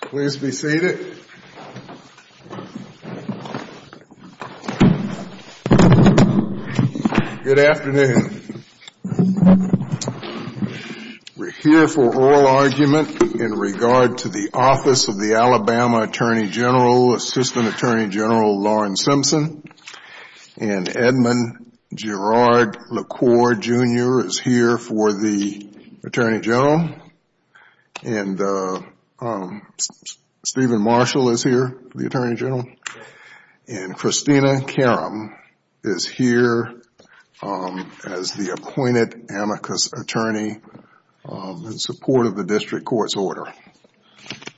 Please be seated. Good afternoon. We're here for oral argument in regard to the Office Of The Alabama Attorney General, Assistant Attorney General Lauren Simpson, and Edmund Gerard LaCour, Jr. is here for the Attorney General, and Stephen Marshall is here for the Attorney General, and Christina Karam is here as the appointed amicus attorney in support of the district court's order.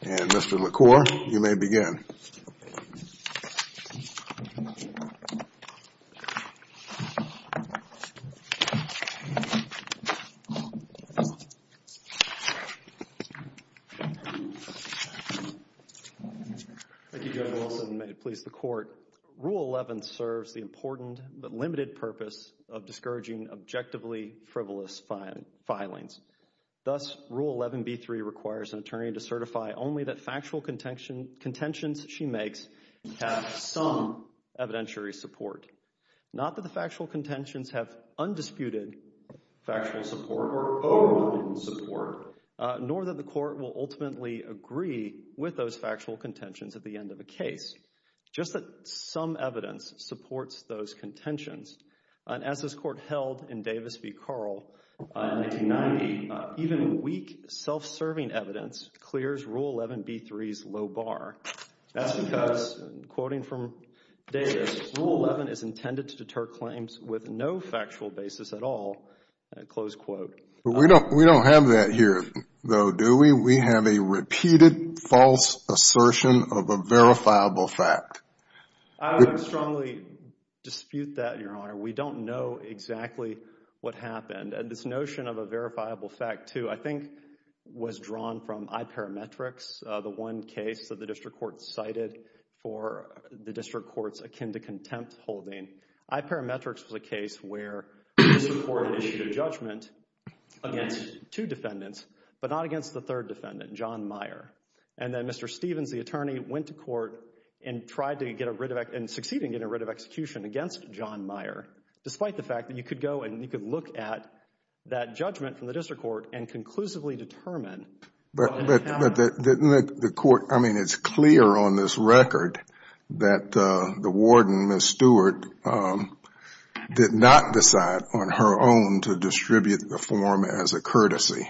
And Mr. LaCour, you may begin. Thank you, General Wilson, and may it please the Court. Rule 11 serves the important but limited purpose of discouraging objectively frivolous filings. Thus, Rule 11b3 requires an attorney to certify only that factual contentions she makes have some evidentiary support. Not that the factual contentions have undisputed factual support or overwhelming support, nor that the Court will ultimately agree with those factual contentions at the end of a case, but that some evidence supports those contentions. As this Court held in Davis v. Carl in 1990, even weak, self-serving evidence clears Rule 11b3's low bar. That's because, quoting from Davis, Rule 11 is intended to deter claims with no factual basis at all, close quote. We don't have that here, though, do we? And we have a repeated false assertion of a verifiable fact. I would strongly dispute that, Your Honor. We don't know exactly what happened. And this notion of a verifiable fact, too, I think was drawn from iParametrics, the one case that the district court cited for the district court's akin-to-contempt holding. iParametrics was a case where the district court issued a judgment against two defendants, but not against the third defendant, John Meyer. And then Mr. Stevens, the attorney, went to court and tried to get rid of, and succeeded in getting rid of, execution against John Meyer, despite the fact that you could go and you could look at that judgment from the district court and conclusively determine... But the court, I mean, it's clear on this record that the warden, Ms. Stewart, did not decide on her own to distribute the form as a courtesy.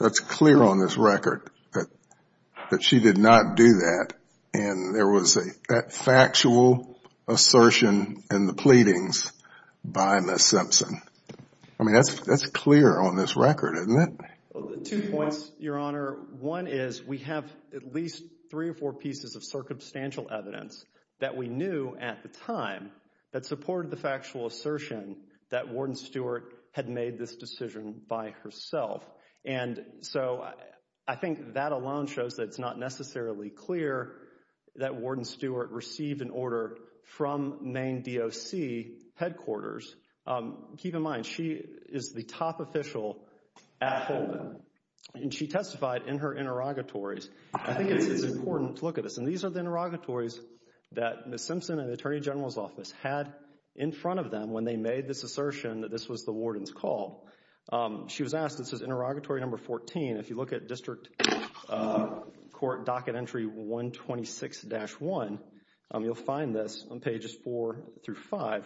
That's clear on this record that she did not do that, and there was that factual assertion in the pleadings by Ms. Simpson. I mean, that's clear on this record, isn't it? Two points, Your Honor. One is, we have at least three or four pieces of circumstantial evidence that we knew at the time that supported the factual assertion that Warden Stewart had made this decision by herself. And so, I think that alone shows that it's not necessarily clear that Warden Stewart received an order from Maine DOC headquarters. Keep in mind, she is the top official at Holden, and she testified in her interrogatories. I think it's important to look at this, and these are the interrogatories that Ms. Simpson and the Attorney General's Office had in front of them when they made this assertion that this was the warden's call. She was asked, this is interrogatory number 14, if you look at District Court Docket Entry 126-1, you'll find this on pages 4 through 5.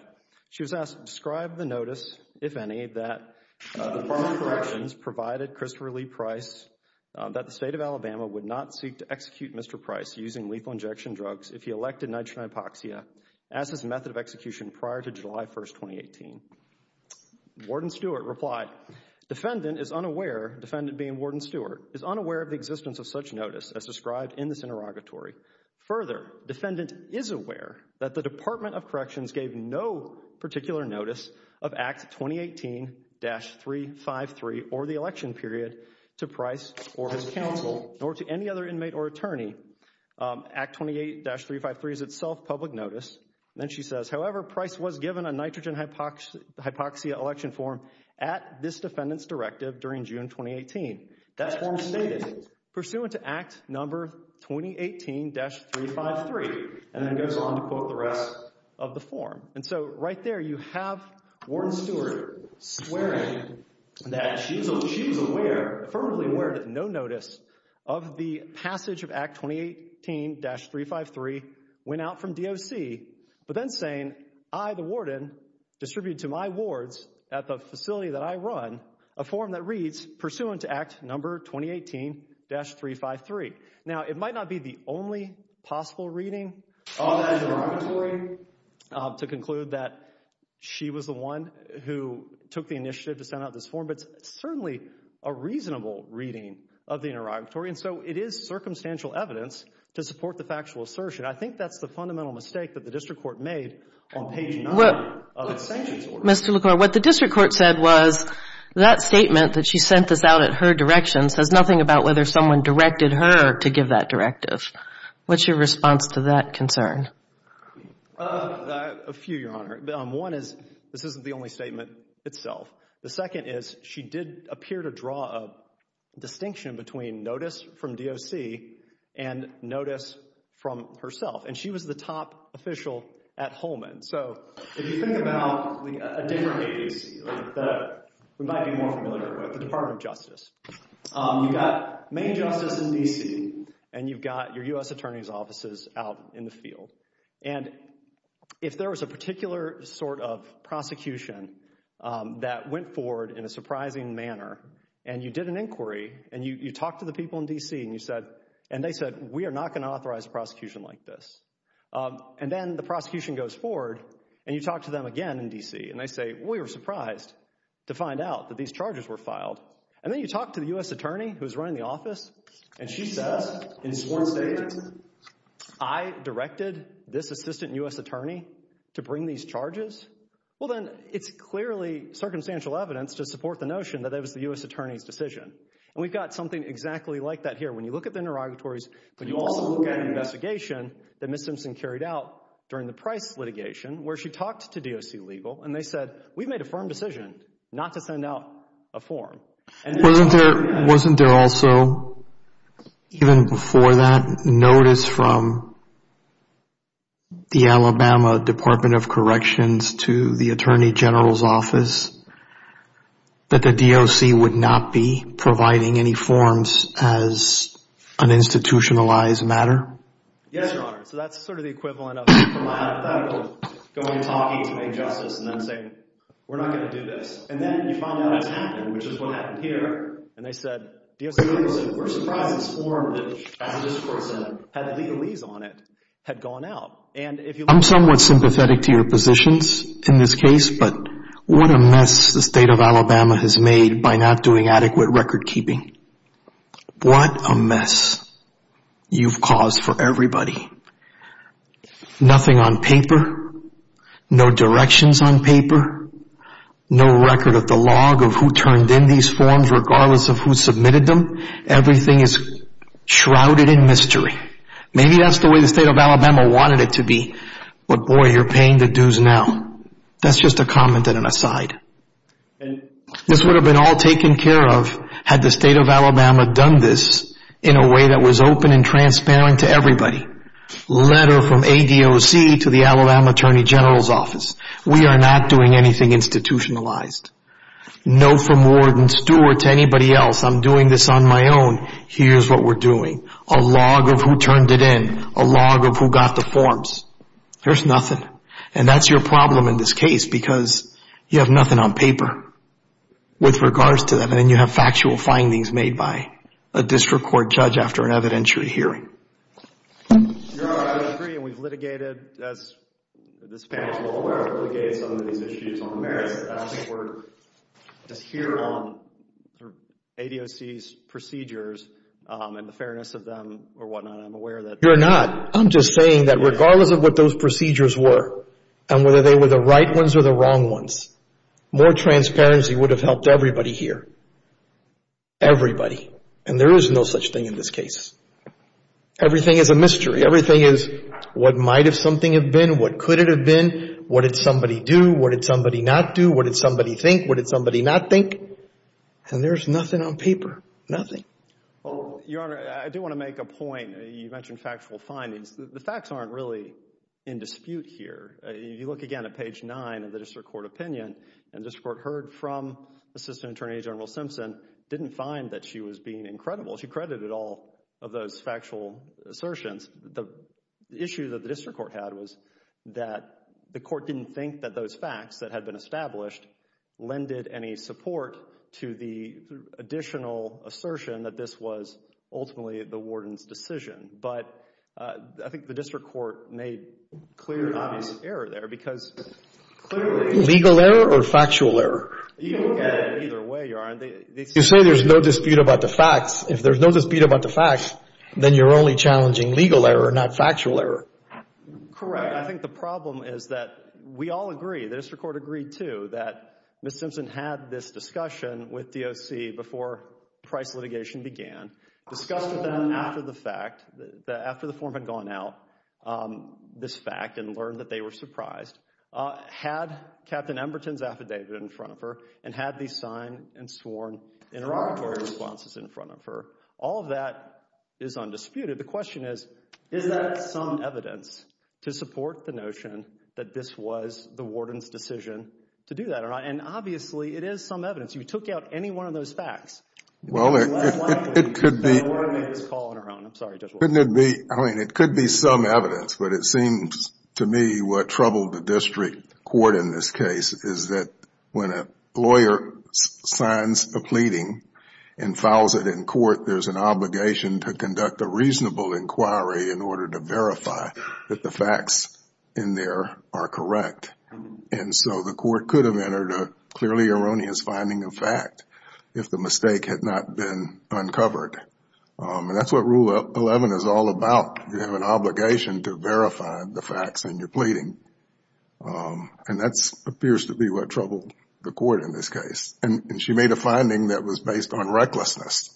She was asked, describe the notice, if any, that the Department of Corrections provided Christopher Lee Price that the State of Alabama would not seek to execute Mr. Price using lethal injection drugs if he elected nitrogen hypoxia as his method of execution prior to July 1, 2018. Warden Stewart replied, defendant is unaware, defendant being Warden Stewart, is unaware of the existence of such notice as described in this interrogatory. Further, defendant is aware that the Department of Corrections gave no particular notice of Act 2018-353 or the election period to Price or his counsel, nor to any other inmate or defendant. Act 2018-353 is itself public notice, and then she says, however, Price was given a nitrogen hypoxia election form at this defendant's directive during June 2018. That form stated, pursuant to Act number 2018-353, and then goes on to quote the rest of the form. And so, right there, you have Warden Stewart swearing that she was aware, affirmatively aware, no notice of the passage of Act 2018-353, went out from DOC, but then saying, I, the Warden, distribute to my wards at the facility that I run a form that reads, pursuant to Act number 2018-353. Now, it might not be the only possible reading to conclude that she was the one who took the initiative to send out this form, but it's certainly a reasonable reading of the interrogatory. And so, it is circumstantial evidence to support the factual assertion. I think that's the fundamental mistake that the district court made on page 9 of its sanctions order. Mr. LaCour, what the district court said was, that statement that she sent this out at her direction says nothing about whether someone directed her to give that directive. What's your response to that concern? A few, Your Honor. One is, this isn't the only statement itself. The second is, she did appear to draw a distinction between notice from DOC and notice from herself, and she was the top official at Holman. So, if you think about a different agency, we might be more familiar with the Department of Justice. You've got Maine Justice in D.C., and you've got your U.S. Attorney's offices out in the field. And if there was a particular sort of prosecution that went forward in a surprising manner, and you did an inquiry, and you talked to the people in D.C., and you said, and they said, we are not going to authorize a prosecution like this. And then the prosecution goes forward, and you talk to them again in D.C., and they say, we were surprised to find out that these charges were filed. And then you talk to the U.S. Attorney, who's running the office, and she says, in this assistant U.S. attorney, to bring these charges? Well, then it's clearly circumstantial evidence to support the notion that it was the U.S. Attorney's decision. And we've got something exactly like that here. When you look at the interrogatories, when you also look at an investigation that Ms. Simpson carried out during the Price litigation, where she talked to DOC Legal, and they said, we've made a firm decision not to send out a form. Wasn't there also, even before that, notice from the Alabama Department of Corrections to the Attorney General's office that the DOC would not be providing any forms as an institutionalized matter? Yes, Your Honor. So that's sort of the equivalent of a criminal attorney going and talking to make justice, and then saying, we're not going to do this. And then you find out it's happened, which is what happened here, and they said, DOC Legal said, we're surprised this form, which has a discourse that had legalese on it, had gone out. I'm somewhat sympathetic to your positions in this case, but what a mess the state of Alabama has made by not doing adequate record keeping. What a mess you've caused for everybody. Nothing on paper, no directions on paper, no record of the log of who turned in these forms regardless of who submitted them. Everything is shrouded in mystery. Maybe that's the way the state of Alabama wanted it to be, but boy, you're paying the dues now. That's just a comment and an aside. This would have been all taken care of had the state of Alabama done this in a way that was open and transparent to everybody. Letter from ADOC to the Alabama Attorney General's office, we are not doing anything institutionalized. No from Ward and Stewart to anybody else, I'm doing this on my own, here's what we're doing. A log of who turned it in, a log of who got the forms, there's nothing. And that's your problem in this case, because you have nothing on paper with regards to and you have factual findings made by a district court judge after an evidentiary hearing. Your Honor, I would agree, and we've litigated, as this panel is well aware, we've litigated some of these issues on the merits. I don't think we're just here on ADOC's procedures and the fairness of them or whatnot. I'm aware that- You're not. I'm just saying that regardless of what those procedures were, and whether they were the Everybody. And there is no such thing in this case. Everything is a mystery. Everything is what might have something have been, what could it have been, what did somebody do, what did somebody not do, what did somebody think, what did somebody not think? And there's nothing on paper. Nothing. Well, Your Honor, I do want to make a point. You mentioned factual findings. The facts aren't really in dispute here. If you look again at page nine of the district court opinion, and the district court heard from Assistant Attorney General Simpson, didn't find that she was being incredible. She credited all of those factual assertions. The issue that the district court had was that the court didn't think that those facts that had been established lended any support to the additional assertion that this was ultimately the warden's decision. But I think the district court made clear and obvious error there because clearly- You can look at it either way, Your Honor. You say there's no dispute about the facts. If there's no dispute about the facts, then you're only challenging legal error, not factual error. Correct. I think the problem is that we all agree, the district court agreed too, that Ms. Simpson had this discussion with DOC before price litigation began, discussed with them after the fact, after the form had gone out, this fact, and learned that they were surprised. Had Captain Emberton's affidavit in front of her and had these signed and sworn interrogatory responses in front of her. All of that is undisputed. The question is, is that some evidence to support the notion that this was the warden's decision to do that? Obviously, it is some evidence. If you took out any one of those facts, it would be less likely that a warden made this call on her own. I'm sorry, Judge Walker. It could be some evidence, but it seems to me what troubled the district court in this case is that when a lawyer signs a pleading and files it in court, there's an obligation to conduct a reasonable inquiry in order to verify that the facts in there are correct. The court could have entered a clearly erroneous finding of fact if the mistake had not been uncovered. And that's what Rule 11 is all about. You have an obligation to verify the facts in your pleading. And that appears to be what troubled the court in this case. And she made a finding that was based on recklessness.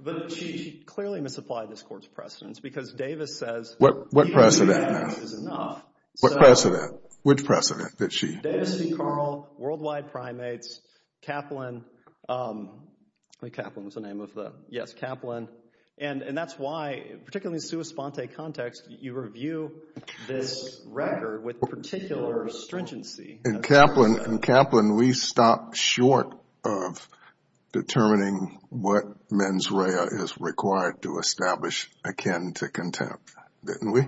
But she clearly misapplied this court's precedents because Davis says... What precedent? Even the evidence is enough. What precedent? Which precedent did she... Davis and Carl, Worldwide Primates, Kaplan. Kaplan was the name of the... Yes, Kaplan. And that's why, particularly in a sua sponte context, you review this record with particular stringency. In Kaplan, we stopped short of determining what mens rea is required to establish akin to contempt. Didn't we?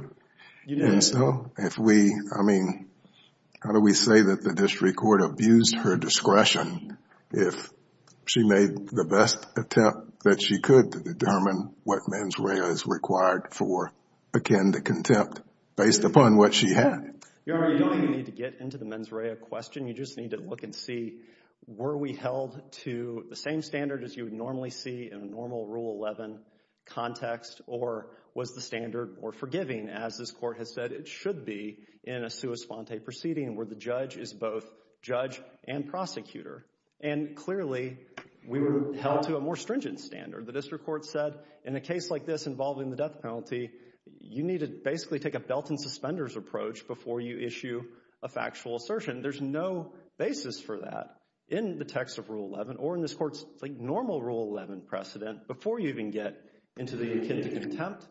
You didn't. So, if we... I mean, how do we say that the district court abused her discretion if she made the best attempt that she could to determine what mens rea is required for akin to contempt based upon what she had? Your Honor, you don't even need to get into the mens rea question. You just need to look and see, were we held to the same standard as you would normally see in a normal Rule 11 context? Or was the standard more forgiving, as this court has said it should be in a sua sponte proceeding where the judge is both judge and prosecutor? And clearly, we were held to a more stringent standard. The district court said, in a case like this involving the death penalty, you need to basically take a belt and suspenders approach before you issue a factual assertion. There's no basis for that in the text of Rule 11 or in this court's normal Rule 11 precedent before you even get into the akin to contempt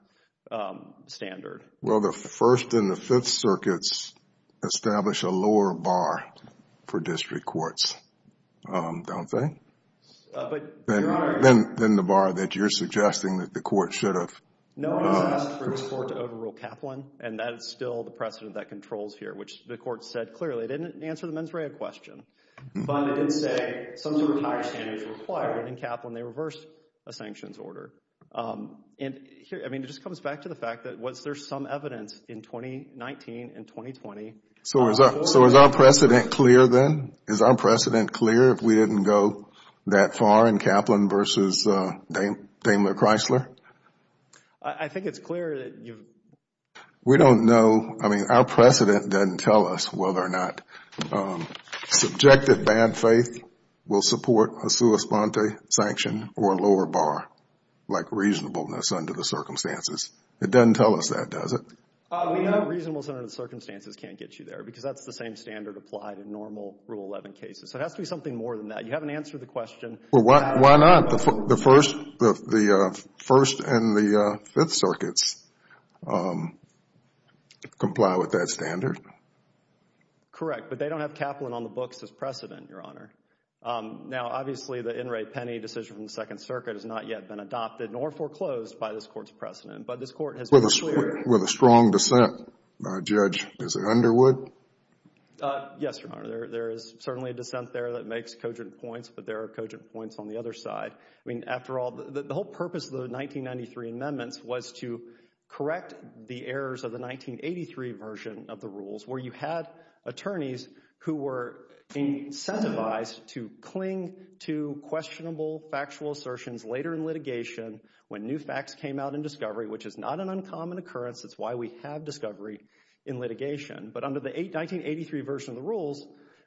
standard. Well, the First and the Fifth Circuits establish a lower bar for district courts, don't they? But, Your Honor... Than the bar that you're suggesting that the court should have... No one has asked for this court to overrule Kaplan, and that is still the precedent that controls here, which the court said clearly. It didn't answer the mens rea question, but it did say some sort of higher standards were required in Kaplan. They reversed a sanctions order. I mean, it just comes back to the fact that was there some evidence in 2019 and 2020... So, is our precedent clear then? Is our precedent clear if we didn't go that far in Kaplan versus Daimler-Chrysler? I think it's clear that you've... We don't know. I mean, our precedent doesn't tell us whether or not subjective bad faith will support a sua sponte sanction or a lower bar like reasonableness under the circumstances. It doesn't tell us that, does it? We know reasonableness under the circumstances can't get you there because that's the same standard applied in normal Rule 11 cases. So, it has to be something more than that. You haven't answered the question... Well, why not? The First and the Fifth Circuits comply with that standard? Correct, but they don't have Kaplan on the books as precedent, Your Honor. Now, obviously, the in re penny decision from the Second Circuit has not yet been adopted nor foreclosed by this Court's precedent, but this Court has made it clear... With a strong dissent, Judge. Is it Underwood? Yes, Your Honor. There is certainly a dissent there that makes cogent points, but there are cogent points on the other side. I mean, after all, the whole purpose of the 1993 amendments was to correct the errors of the 1983 version of the rules where you had attorneys who were incentivized to cling to questionable factual assertions later in litigation when new facts came out in discovery, which is not an uncommon occurrence. It's why we have discovery in litigation. But under the 1983 version of the rules,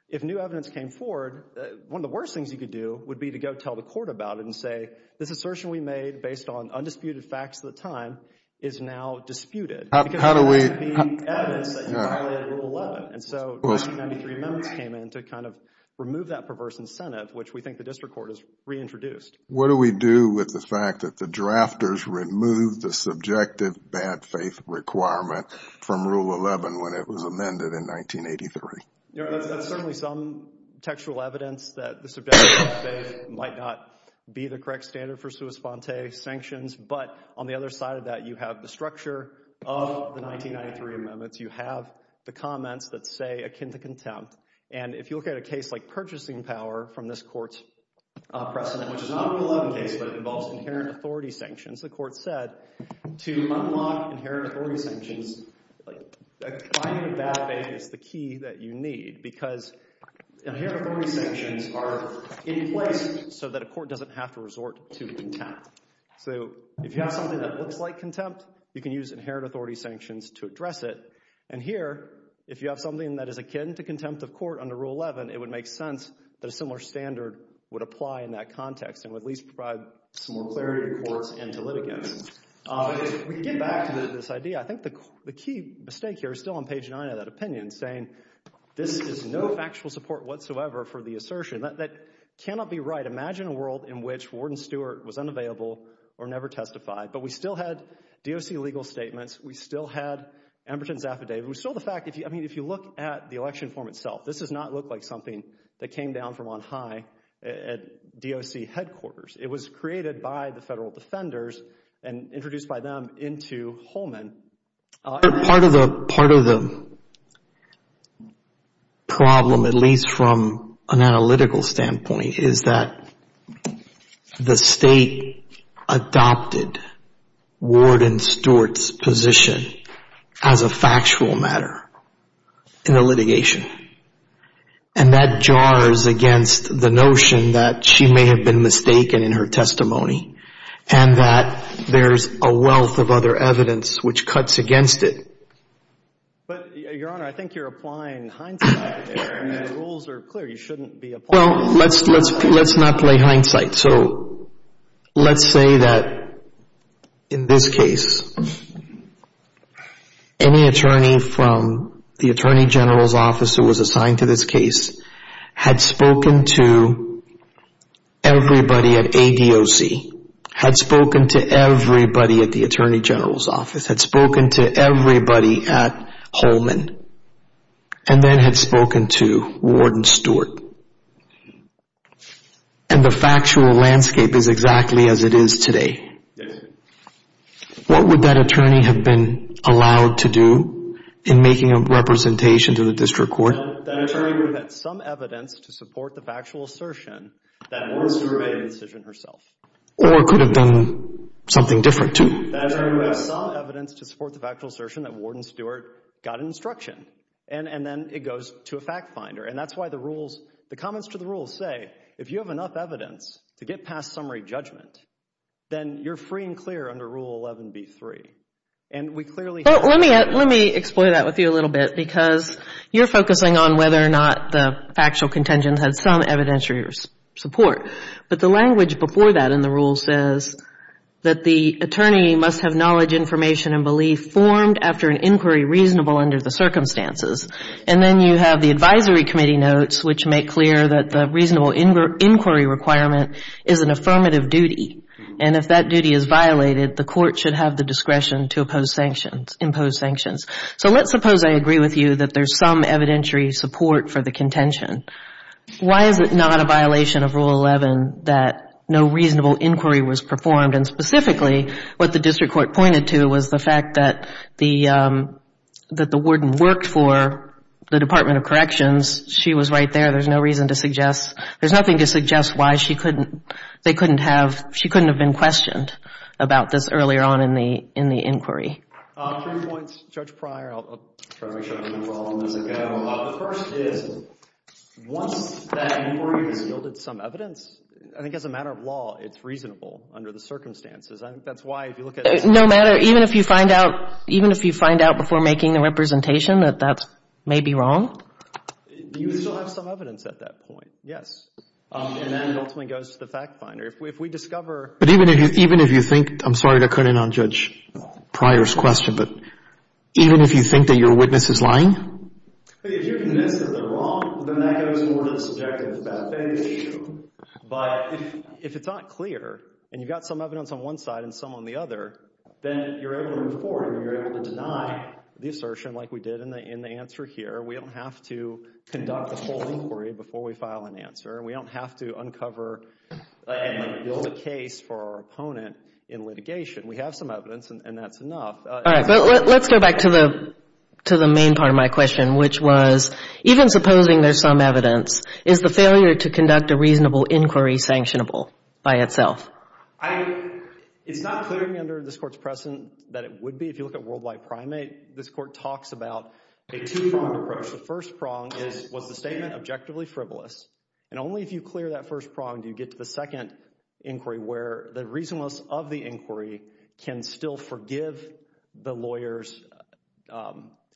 if new evidence came forward, one of the worst things you could do would be to go tell the Court about it and say, this assertion we made based on undisputed facts at the time is now disputed. How do we... Because that would be evidence that you violated Rule 11. And so 1993 amendments came in to kind of remove that perverse incentive, which we think the District Court has reintroduced. What do we do with the fact that the drafters removed the subjective bad faith requirement from Rule 11 when it was amended in 1983? That's certainly some textual evidence that the subjective bad faith might not be the correct standard for sua sponte sanctions. But on the other side of that, you have the structure of the 1993 amendments. You have the comments that say akin to contempt. And if you look at a case like Purchasing Power from this Court's precedent, which is not a Rule 11 case but involves inherent authority sanctions, the Court said to unlock because inherent authority sanctions are in place so that a court doesn't have to resort to contempt. So if you have something that looks like contempt, you can use inherent authority sanctions to address it. And here, if you have something that is akin to contempt of court under Rule 11, it would make sense that a similar standard would apply in that context and would at least provide some more clarity to courts and to litigants. But if we get back to this idea, I think the key mistake here is still on page 9 of that This is no factual support whatsoever for the assertion. That cannot be right. Imagine a world in which Warden Stewart was unavailable or never testified. But we still had DOC legal statements. We still had Emberton's affidavit. We still have the fact, I mean, if you look at the election form itself, this does not look like something that came down from on high at DOC headquarters. It was created by the federal defenders and introduced by them into Holman. Part of the problem, at least from an analytical standpoint, is that the state adopted Warden Stewart's position as a factual matter in the litigation. And that jars against the notion that she may have been mistaken in her testimony and that there's a wealth of other evidence which cuts against it. But, Your Honor, I think you're applying hindsight there. I mean, the rules are clear. You shouldn't be applying. Well, let's not play hindsight. So let's say that in this case, any attorney from the Attorney General's office who was had spoken to everybody at the Attorney General's office, had spoken to everybody at Holman, and then had spoken to Warden Stewart. And the factual landscape is exactly as it is today. What would that attorney have been allowed to do in making a representation to the district court? That attorney would have had some evidence to support the factual assertion that Warden Stewart made the decision herself. Or it could have been something different, too. That attorney would have had some evidence to support the factual assertion that Warden Stewart got instruction. And then it goes to a fact finder. And that's why the rules, the comments to the rules say, if you have enough evidence to get past summary judgment, then you're free and clear under Rule 11b-3. And we clearly have. Let me explore that with you a little bit, because you're focusing on whether or not the factual contingent had some evidentiary support. But the language before that in the rule says that the attorney must have knowledge, information, and belief formed after an inquiry reasonable under the circumstances. And then you have the advisory committee notes, which make clear that the reasonable inquiry requirement is an affirmative duty. And if that duty is violated, the court should have the discretion to impose sanctions. So let's suppose I agree with you that there's some evidentiary support for the contention. Why is it not a violation of Rule 11 that no reasonable inquiry was performed? And specifically, what the district court pointed to was the fact that the warden worked for the Department of Corrections. She was right there. There's no reason to suggest, there's nothing to suggest why she couldn't, they couldn't have, she couldn't have been questioned about this earlier on in the inquiry. Three points. Judge Pryor, I'll try to make sure I don't lose all of them as I go. The first is, once that inquiry has yielded some evidence, I think as a matter of law, it's reasonable under the circumstances. I think that's why if you look at... No matter, even if you find out, even if you find out before making the representation that that may be wrong? You still have some evidence at that point, yes. And that ultimately goes to the fact finder. If we discover... But even if you think, I'm sorry to cut in on Judge Pryor's question, but even if you think that your witness is lying? If you're convinced that they're wrong, then that goes more to the subject of the fact finder issue. But if it's not clear, and you've got some evidence on one side and some on the other, then you're able to move forward and you're able to deny the assertion like we did in the answer here. We don't have to conduct the full inquiry before we file an answer. We don't have to uncover and build a case for our opponent in litigation. We have some evidence, and that's enough. All right. But let's go back to the main part of my question, which was, even supposing there's some evidence, is the failure to conduct a reasonable inquiry sanctionable by itself? It's not clear to me under this Court's precedent that it would be. If you look at World Wide Primate, this Court talks about a two-pronged approach. The first prong is, was the statement objectively frivolous? And only if you clear that first prong do you get to the second inquiry where the reasonableness of the inquiry can still forgive the lawyer's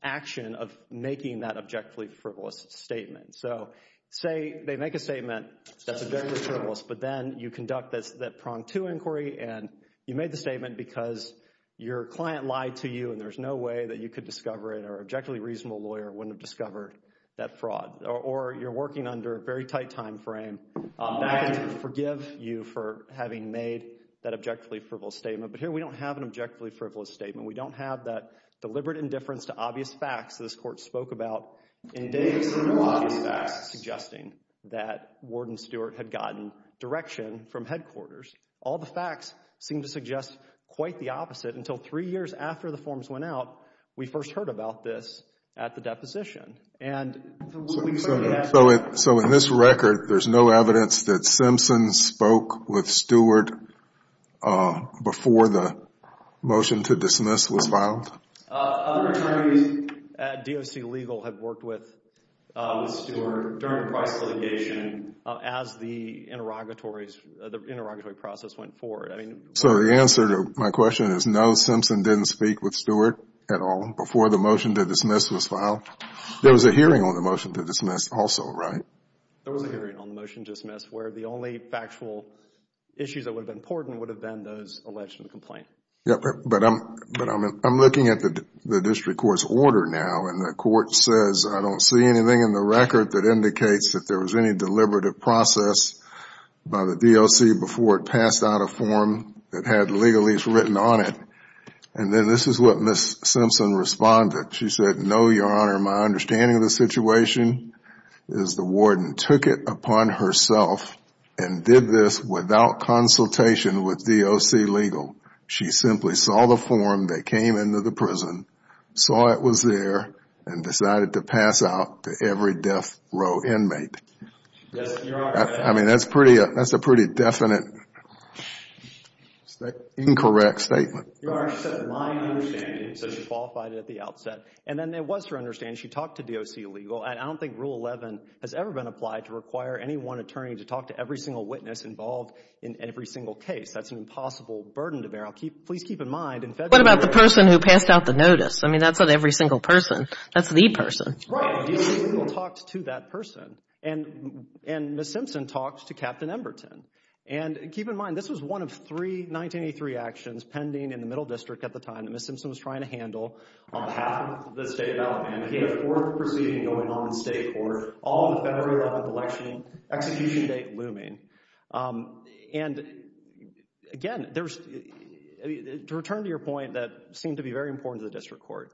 action of making that objectively frivolous statement. So, say they make a statement that's objectively frivolous, but then you conduct that pronged two inquiry, and you made the statement because your client lied to you and there's no way that you could discover it or an objectively reasonable lawyer wouldn't have discovered that fraud. Or, you're working under a very tight time frame. That can forgive you for having made that objectively frivolous statement. But here we don't have an objectively frivolous statement. We don't have that deliberate indifference to obvious facts that this Court spoke about in days of no obvious facts suggesting that Warden Stewart had gotten direction from headquarters. All the facts seem to suggest quite the opposite until three years after the forms went out we first heard about this at the deposition. So, in this record, there's no evidence that Simpson spoke with Stewart before the motion to dismiss was filed? Other attorneys at DOC Legal had worked with Stewart during the price litigation as the interrogatory process went forward. So, the answer to my question is no, Simpson didn't speak with Stewart at all before the motion to dismiss was filed? There was a hearing on the motion to dismiss also, right? There was a hearing on the motion to dismiss where the only factual issues that would have been important would have been those alleged in the complaint. But I'm looking at the district court's order now, and the court says I don't see anything in the record that indicates that there was any deliberative process by the DOC before it passed out a form that had legalese written on it. And then this is what Ms. Simpson responded. She said, no, Your Honor, my understanding of the situation is the Warden took it upon herself and did this without consultation with DOC Legal. She simply saw the form that came into the prison, saw it was there, and decided to pass out to every death row inmate. I mean, that's a pretty definite incorrect statement. Your Honor, she said, my understanding, so she qualified it at the outset. And then there was her understanding. She talked to DOC Legal. And I don't think Rule 11 has ever been applied to require any one attorney to talk to every single witness involved in every single case. That's an impossible burden to bear. Please keep in mind, in February – What about the person who passed out the notice? I mean, that's not every single person. That's the person. Right. And DOC Legal talked to that person. And Ms. Simpson talked to Captain Emberton. And keep in mind, this was one of three 1983 actions pending in the Middle District at the time that Ms. Simpson was trying to handle on behalf of the State of Alabama. We had a fourth proceeding going on in the State Court, all on the February 11th election, execution date looming. And, again, to return to your point that seemed to be very important to the District Court,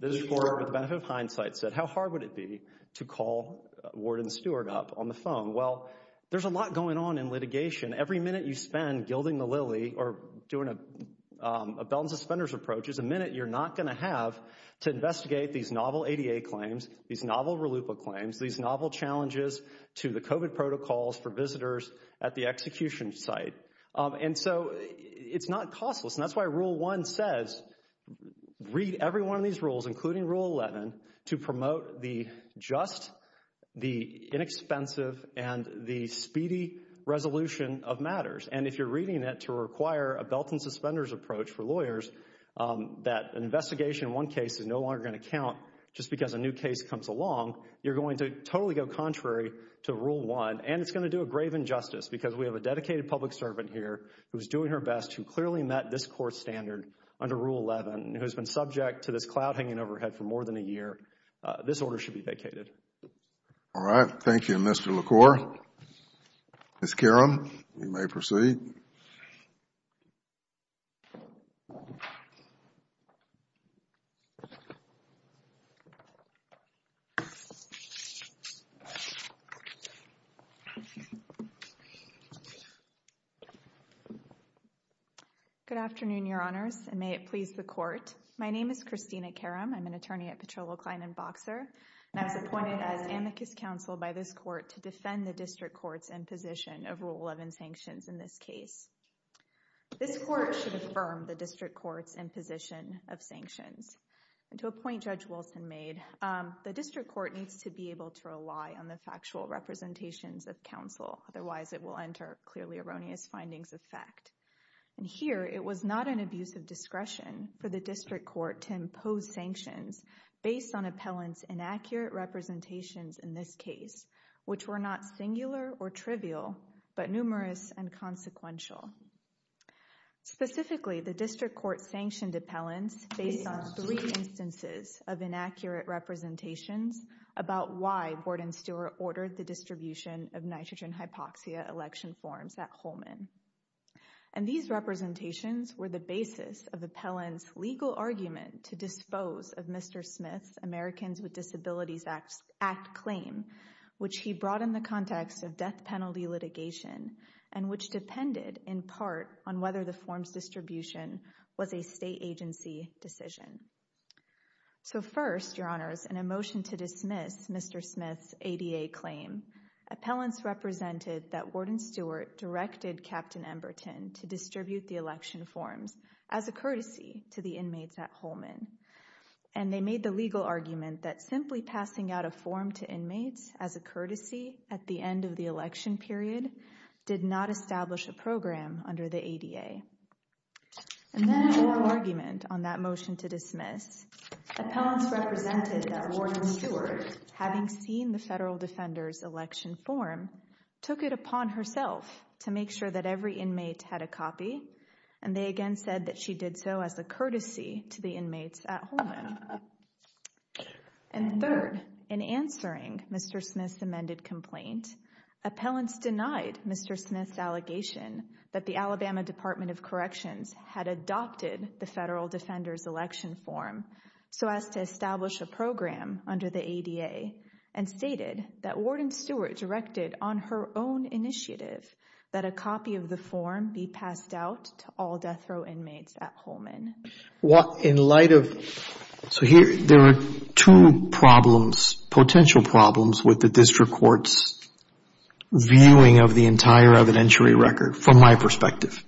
the District Court, with the benefit of hindsight, said, how hard would it be to call Warden Stewart up on the phone? Well, there's a lot going on in litigation. Every minute you spend gilding the lily or doing a belt and suspenders approach is a minute you're not going to have to investigate these novel ADA claims, these novel RLUIPA claims, these novel challenges to the COVID protocols for visitors at the execution site. And so it's not costless. And that's why Rule 1 says read every one of these rules, including Rule 11, to promote the just, the inexpensive, and the speedy resolution of matters. And if you're reading it to require a belt and suspenders approach for lawyers, that an investigation in one case is no longer going to count just because a new case comes along, you're going to totally go contrary to Rule 1. And it's going to do a grave injustice because we have a dedicated public servant here who's under Rule 11, who has been subject to this cloud hanging overhead for more than a year. This order should be vacated. All right. Thank you, Mr. LaCour. Ms. Karam, you may proceed. Good afternoon, Your Honors, and may it please the Court. My name is Christina Karam. I'm an attorney at Petrolo Klein & Boxer, and I was appointed as amicus counsel by this court to defend the district courts in position of Rule 11 sanctions in this case. This court should affirm the district court's imposition of sanctions. And to a point Judge Wilson made, the district court needs to be able to rely on the factual representations of counsel. Otherwise, it will enter clearly erroneous findings of fact. And here, it was not an abuse of discretion for the district court to impose sanctions based on appellant's inaccurate representations in this case, which were not singular or trivial, but numerous and consequential. Specifically, the district court sanctioned appellants based on three instances of inaccurate representations about why Gordon Stewart ordered the distribution of nitrogen hypoxia election forms at Holman. And these representations were the basis of appellant's legal argument to dispose of Mr. Smith's Americans with Disabilities Act claim, which he brought in the context of death penalty litigation, and which depended in part on whether the form's distribution was a state agency decision. So first, Your Honors, in a motion to dismiss Mr. Smith's ADA claim, appellants represented that Gordon Stewart directed Captain Emberton to distribute the election forms as a courtesy to the inmates at Holman. And they made the legal argument that simply passing out a form to inmates as a courtesy at the end of the election period did not establish a program under the ADA. And then in oral argument on that motion to dismiss, appellants represented that Gordon Stewart, having seen the federal defender's election form, took it upon herself to make sure that every inmate had a copy, and they again said that she did so as a courtesy to the inmates at Holman. And third, in answering Mr. Smith's amended complaint, appellants denied Mr. Smith's allegation that the Alabama Department of Corrections had adopted the federal defender's election form so as to establish a program under the ADA, and stated that Gordon Stewart directed on her own initiative that a copy of the form be passed out to all death row inmates at Holman. In light of, so here, there are two problems, potential problems with the district court's viewing of the entire evidentiary record from my perspective.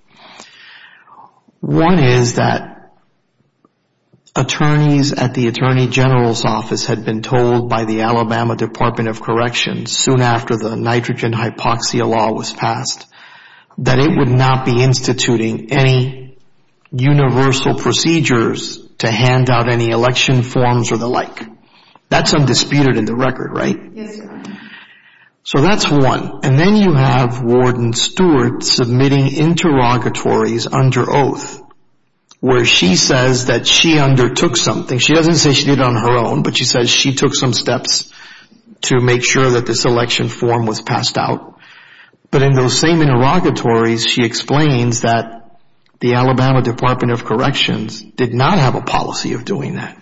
One is that attorneys at the Attorney General's office had been told by the Alabama Department of Corrections soon after the nitrogen hypoxia law was passed that it would not be instituting any universal procedures to hand out any election forms or the like. That's undisputed in the record, right? Yes, Your Honor. So that's one. And then you have Gordon Stewart submitting interrogatories under oath where she says that she undertook something. She doesn't say she did it on her own, but she says she took some steps to make sure that this election form was passed out. But in those same interrogatories, she explains that the Alabama Department of Corrections did not have a policy of doing that.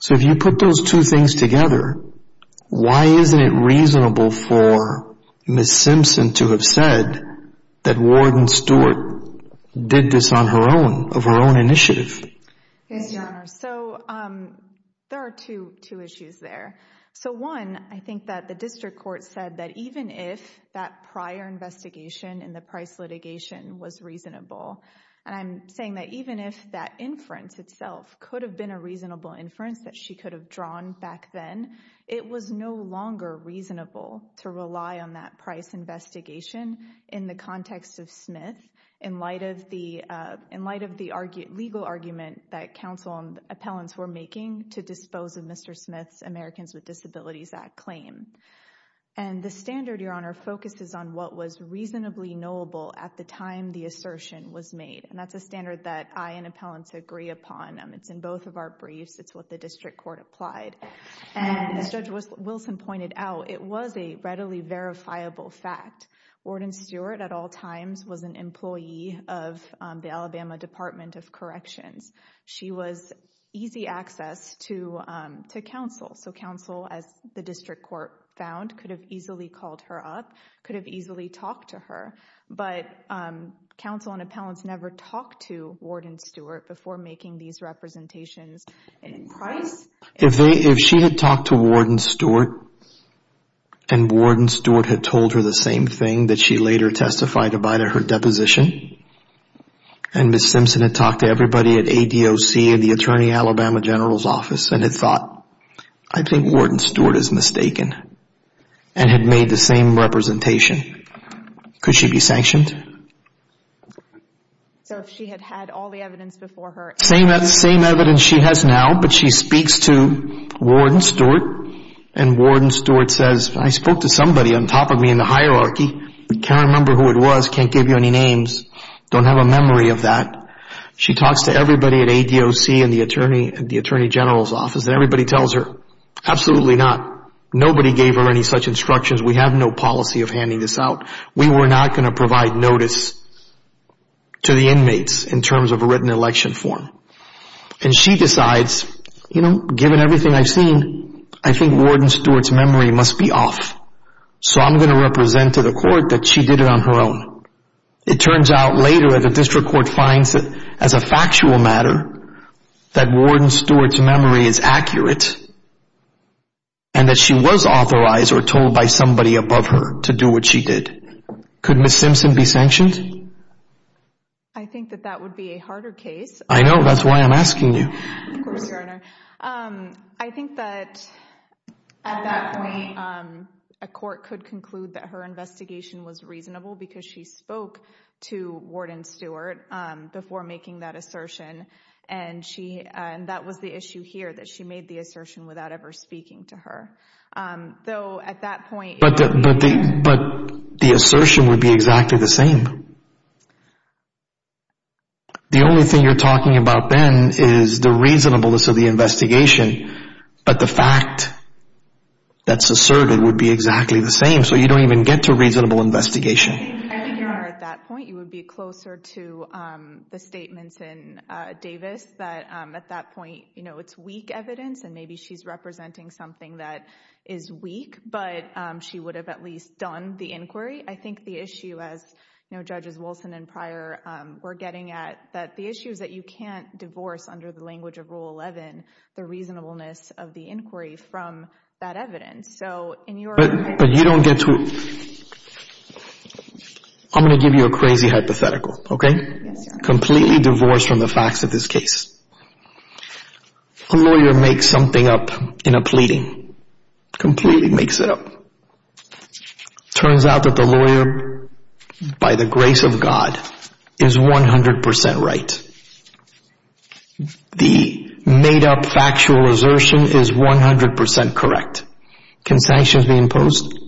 So if you put those two things together, why isn't it reasonable for Ms. Simpson to have said that Gordon Stewart did this on her own, of her own initiative? Yes, Your Honor. So there are two issues there. So one, I think that the district court said that even if that prior investigation in the Price litigation was reasonable, and I'm saying that even if that inference itself could have been a reasonable inference that she could have drawn back then, it was no longer reasonable to rely on that Price investigation in the context of Smith in light of the legal argument that counsel and appellants were making to dispose of Mr. Smith's Americans with Disabilities Act claim. And the standard, Your Honor, focuses on what was reasonably knowable at the time the assertion was made. And that's a standard that I and appellants agree upon. It's in both of our briefs. It's what the district court applied. And as Judge Wilson pointed out, it was a readily verifiable fact. Warden Stewart, at all times, was an employee of the Alabama Department of Corrections. She was easy access to counsel. So counsel, as the district court found, could have easily called her up, could have easily talked to her. But counsel and appellants never talked to Warden Stewart before making these representations. If she had talked to Warden Stewart, and Warden Stewart had told her the same thing that she later testified about at her deposition, and Ms. Simpson had talked to everybody at ADOC, at the Attorney Alabama General's Office, and had thought, I think Warden Stewart is mistaken, and had made the same representation, could she be sanctioned? So if she had had all the evidence before her... Same evidence she has now, but she speaks to Warden Stewart, and Warden Stewart says, I spoke to somebody on top of me in the hierarchy, but can't remember who it was, can't give you any names, don't have a memory of that. She talks to everybody at ADOC and the Attorney General's Office, and everybody tells her, absolutely not. Nobody gave her any such instructions. We have no policy of handing this out. We were not going to provide notice to the inmates in terms of a written election form. And she decides, you know, given everything I've seen, I think Warden Stewart's memory must be off. So I'm going to represent to the court that she did it on her own. It turns out later, the district court finds that as a factual matter, that Warden Stewart's memory is accurate, and that she was authorized or told by somebody above her to do what she did. Could Ms. Simpson be sanctioned? I think that that would be a harder case. I know. That's why I'm asking you. Of course, Your Honor. I think that at that point, a court could conclude that her investigation was reasonable because she spoke to Warden Stewart before making that assertion, and that was the issue here, that she made the assertion without ever speaking to her. Though at that point— But the assertion would be exactly the same. The only thing you're talking about then is the reasonableness of the investigation, but the fact that's asserted would be exactly the same, so you don't even get to reasonable investigation. I think, Your Honor, at that point, you would be closer to the statements in Davis that at that point, it's weak evidence, and maybe she's representing something that is weak, but she would have at least done the inquiry. I think the issue, as Judges Wilson and Pryor were getting at, that the issue is that you can't divorce, under the language of Rule 11, the reasonableness of the inquiry from that evidence. So in your— But you don't get to—I'm going to give you a crazy hypothetical, okay? Yes, Your Honor. Can you divorce from the facts of this case? A lawyer makes something up in a pleading. Completely makes it up. Turns out that the lawyer, by the grace of God, is 100 percent right. The made-up factual assertion is 100 percent correct. Can sanctions be imposed?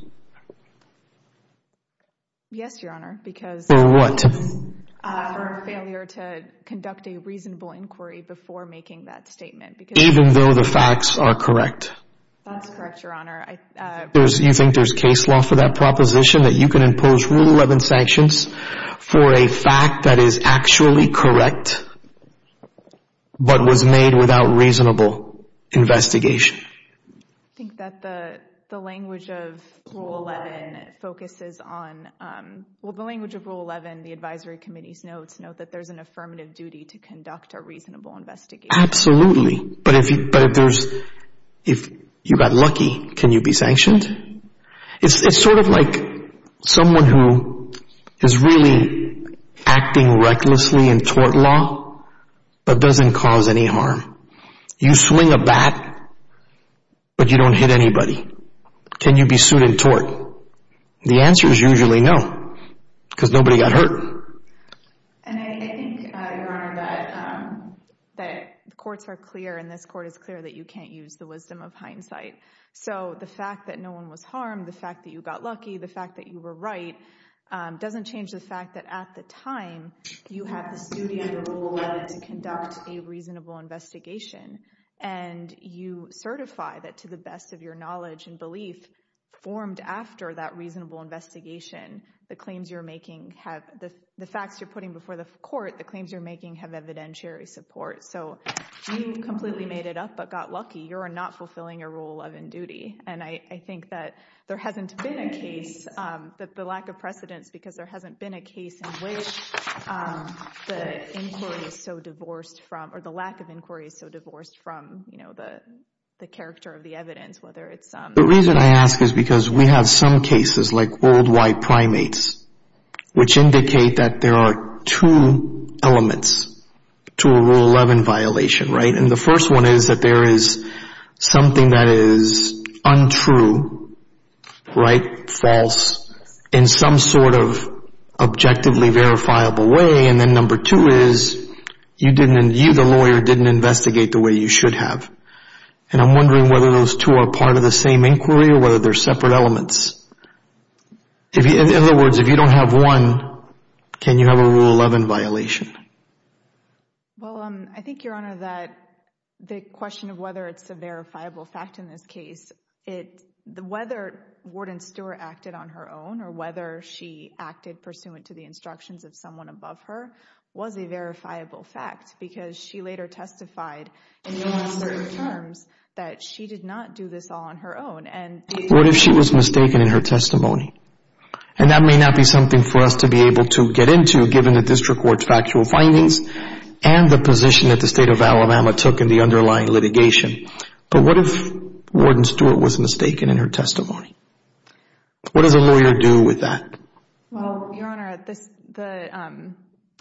Yes, Your Honor, because— For what? For a failure to conduct a reasonable inquiry before making that statement, because— Even though the facts are correct? That's correct, Your Honor. You think there's case law for that proposition, that you can impose Rule 11 sanctions for a fact that is actually correct, but was made without reasonable investigation? I think that the language of Rule 11 focuses on—well, the language of Rule 11, the advisory committee's notes note that there's an affirmative duty to conduct a reasonable investigation. Absolutely. But if there's—if you got lucky, can you be sanctioned? It's sort of like someone who is really acting recklessly in tort law, but doesn't cause any harm. You swing a bat, but you don't hit anybody. Can you be sued in tort? The answer is usually no, because nobody got hurt. And I think, Your Honor, that the courts are clear, and this Court is clear, that you can't use the wisdom of hindsight. So the fact that no one was harmed, the fact that you got lucky, the fact that you were right, doesn't change the fact that at the time, you had this duty under Rule 11 to conduct a reasonable investigation. And you certify that to the best of your knowledge and belief, formed after that reasonable investigation, the claims you're making have—the facts you're putting before the Court, the claims you're making have evidentiary support. So you completely made it up, but got lucky. You're not fulfilling your Rule 11 duty. And I think that there hasn't been a case—the lack of precedence, because there hasn't been a case in which the inquiry is so divorced from—or the lack of inquiry is so divorced from, you know, the character of the evidence, whether it's— The reason I ask is because we have some cases, like worldwide primates, which indicate that there are two elements to a Rule 11 violation, right? And the first one is that there is something that is untrue, right? False. In some sort of objectively verifiable way. And then number two is you didn't—you, the lawyer, didn't investigate the way you should have. And I'm wondering whether those two are part of the same inquiry or whether they're separate elements. In other words, if you don't have one, can you have a Rule 11 violation? Well, I think, Your Honor, that the question of whether it's a verifiable fact in this case, it—whether Warden Stewart acted on her own or whether she acted pursuant to the instructions of someone above her was a verifiable fact, because she later testified in no uncertain terms that she did not do this all on her own, and— What if she was mistaken in her testimony? And that may not be something for us to be able to get into, given the District Court's factual findings and the position that the State of Alabama took in the underlying litigation. But what if Warden Stewart was mistaken in her testimony? What does a lawyer do with that? Well, Your Honor, the—the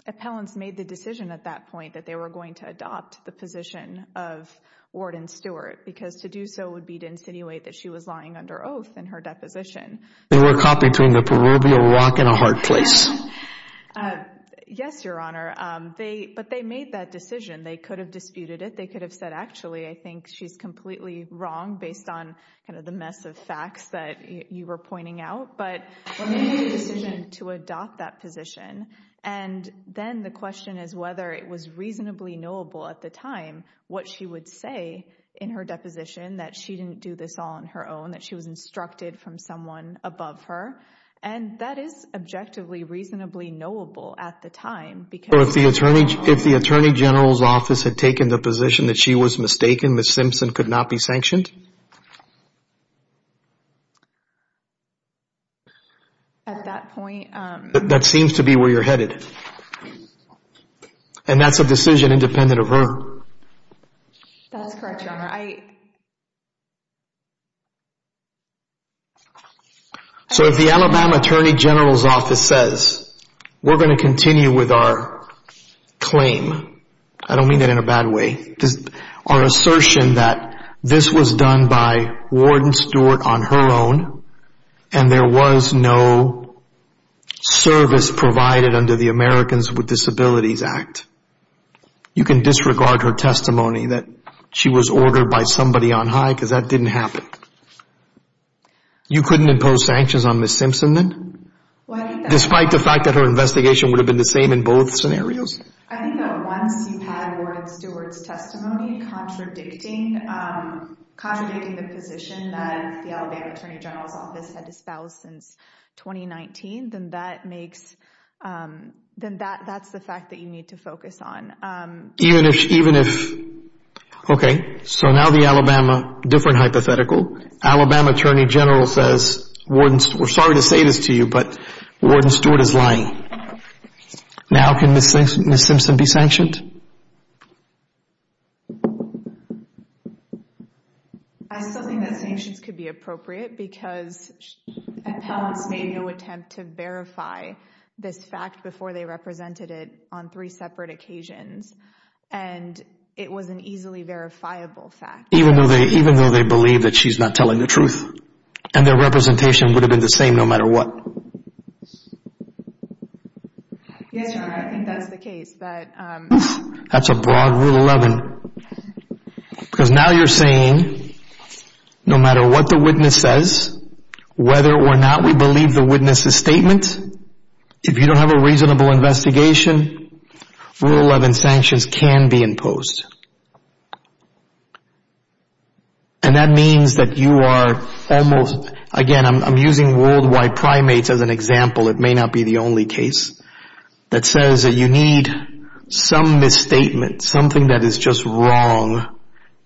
appellants made the decision at that point that they were going to adopt the position of Warden Stewart, because to do so would be to insinuate that she was lying under oath in her deposition. They were caught between a proverbial rock and a hard place. Yes, Your Honor. They—but they made that decision. They could have disputed it. They could have said, actually, I think she's completely wrong, based on kind of the mess of facts that you were pointing out. But they made the decision to adopt that position, and then the question is whether it was reasonably knowable at the time what she would say in her deposition, that she didn't do this all on her own, that she was instructed from someone above her. And that is objectively reasonably knowable at the time, because— So if the Attorney—if the Attorney General's office had taken the position that she was mistaken, Ms. Simpson could not be sanctioned? At that point— That seems to be where you're headed. That's correct, Your Honor. So if the Alabama Attorney General's office says, we're going to continue with our claim— I don't mean that in a bad way—our assertion that this was done by Warden Stewart on her own, and there was no service provided under the Americans with Disabilities Act, you can disregard her testimony that she was ordered by somebody on high because that didn't happen. You couldn't impose sanctions on Ms. Simpson then? Despite the fact that her investigation would have been the same in both scenarios? I think that once you had Warden Stewart's testimony contradicting— contradicting the position that the Alabama Attorney General's office had disposed since 2019, then that makes—then that's the fact that you need to focus on. Even if—okay, so now the Alabama—different hypothetical. Alabama Attorney General says, we're sorry to say this to you, but Warden Stewart is lying. Now can Ms. Simpson be sanctioned? I still think that sanctions could be appropriate because appellants made no attempt to verify this fact before they represented it on three separate occasions, and it was an easily verifiable fact. Even though they believe that she's not telling the truth, and their representation would have been the same no matter what? That's a broad Rule 11. Because now you're saying, no matter what the witness says, whether or not we believe the witness's statement, if you don't have a reasonable investigation, Rule 11 sanctions can be imposed. And that means that you are almost—again, I'm using worldwide primates as an example. It may not be the only case that says that you need some misstatement, something that is just wrong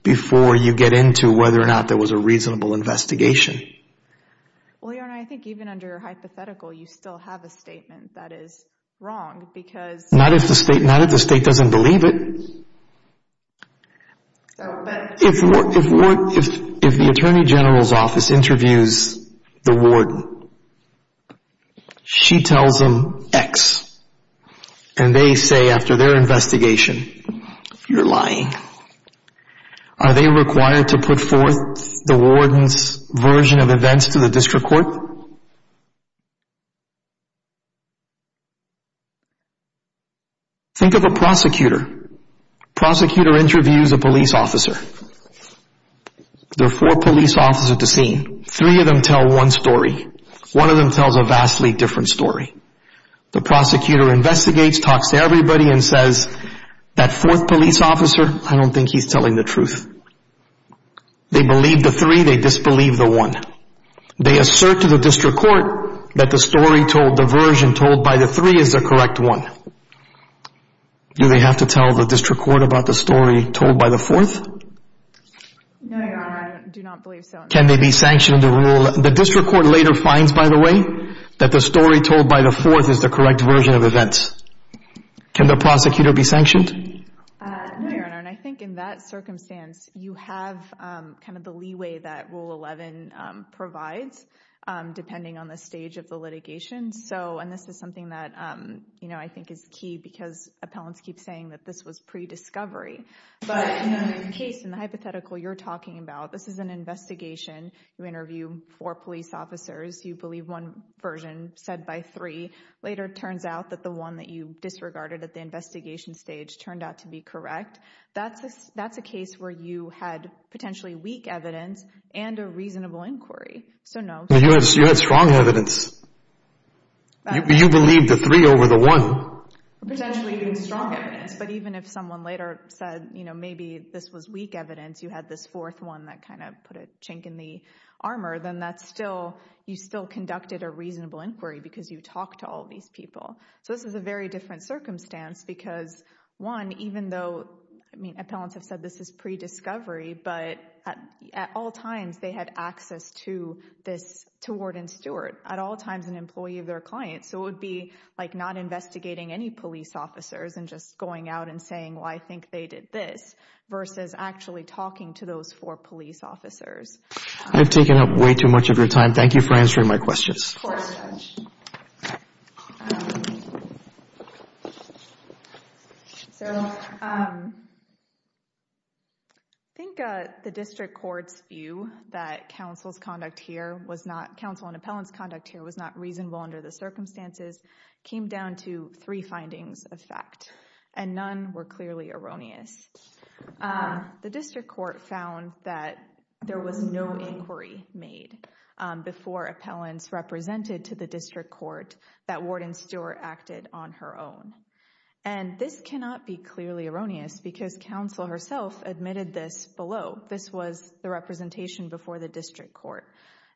before you get into whether or not there was a reasonable investigation. Well, Your Honor, I think even under hypothetical, you still have a statement that is wrong because— Not if the state doesn't believe it. If the attorney general's office interviews the warden, she tells him X, and they say after their investigation, you're lying. Are they required to put forth the warden's version of events to the district court? Think of a prosecutor. Prosecutor interviews a police officer. There are four police officers at the scene. Three of them tell one story. One of them tells a vastly different story. The prosecutor investigates, talks to everybody, and says, that fourth police officer, I don't think he's telling the truth. They believe the three, they disbelieve the one. They assert to the district court that the story told, the version told by the three is the correct one. Do they have to tell the district court about the story told by the fourth? No, Your Honor, I do not believe so. Can they be sanctioned under Rule 11? The district court later finds, by the way, that the story told by the fourth is the correct version of events. Can the prosecutor be sanctioned? No, Your Honor, and I think in that circumstance, you have kind of the leeway that Rule 11 provides, depending on the stage of the litigation. So, and this is something that, you know, I think is key, because appellants keep saying that this was pre-discovery. But in the case, in the hypothetical you're talking about, this is an investigation. You interview four police officers. You believe one version said by three. Later it turns out that the one that you disregarded at the investigation stage turned out to be correct. That's a case where you had potentially weak evidence and a reasonable inquiry. You had strong evidence. You believed the three over the one. Potentially even strong evidence, but even if someone later said, you know, maybe this was weak evidence, you had this fourth one that kind of put a chink in the armor, then that's still, you still conducted a reasonable inquiry because you talked to all these people. So this is a very different circumstance because, one, even though, I mean, appellants have said this is pre-discovery, but at all times they had access to Warden Stewart, at all times an employee of their client. So it would be like not investigating any police officers and just going out and saying, well, I think they did this, versus actually talking to those four police officers. I've taken up way too much of your time. Thank you for answering my questions. Of course. Thank you very much. So I think the district court's view that counsel's conduct here was not, counsel and appellant's conduct here was not reasonable under the circumstances, came down to three findings of fact, and none were clearly erroneous. The district court found that there was no inquiry made before appellants represented to the district court that Warden Stewart acted on her own. And this cannot be clearly erroneous because counsel herself admitted this below. This was the representation before the district court.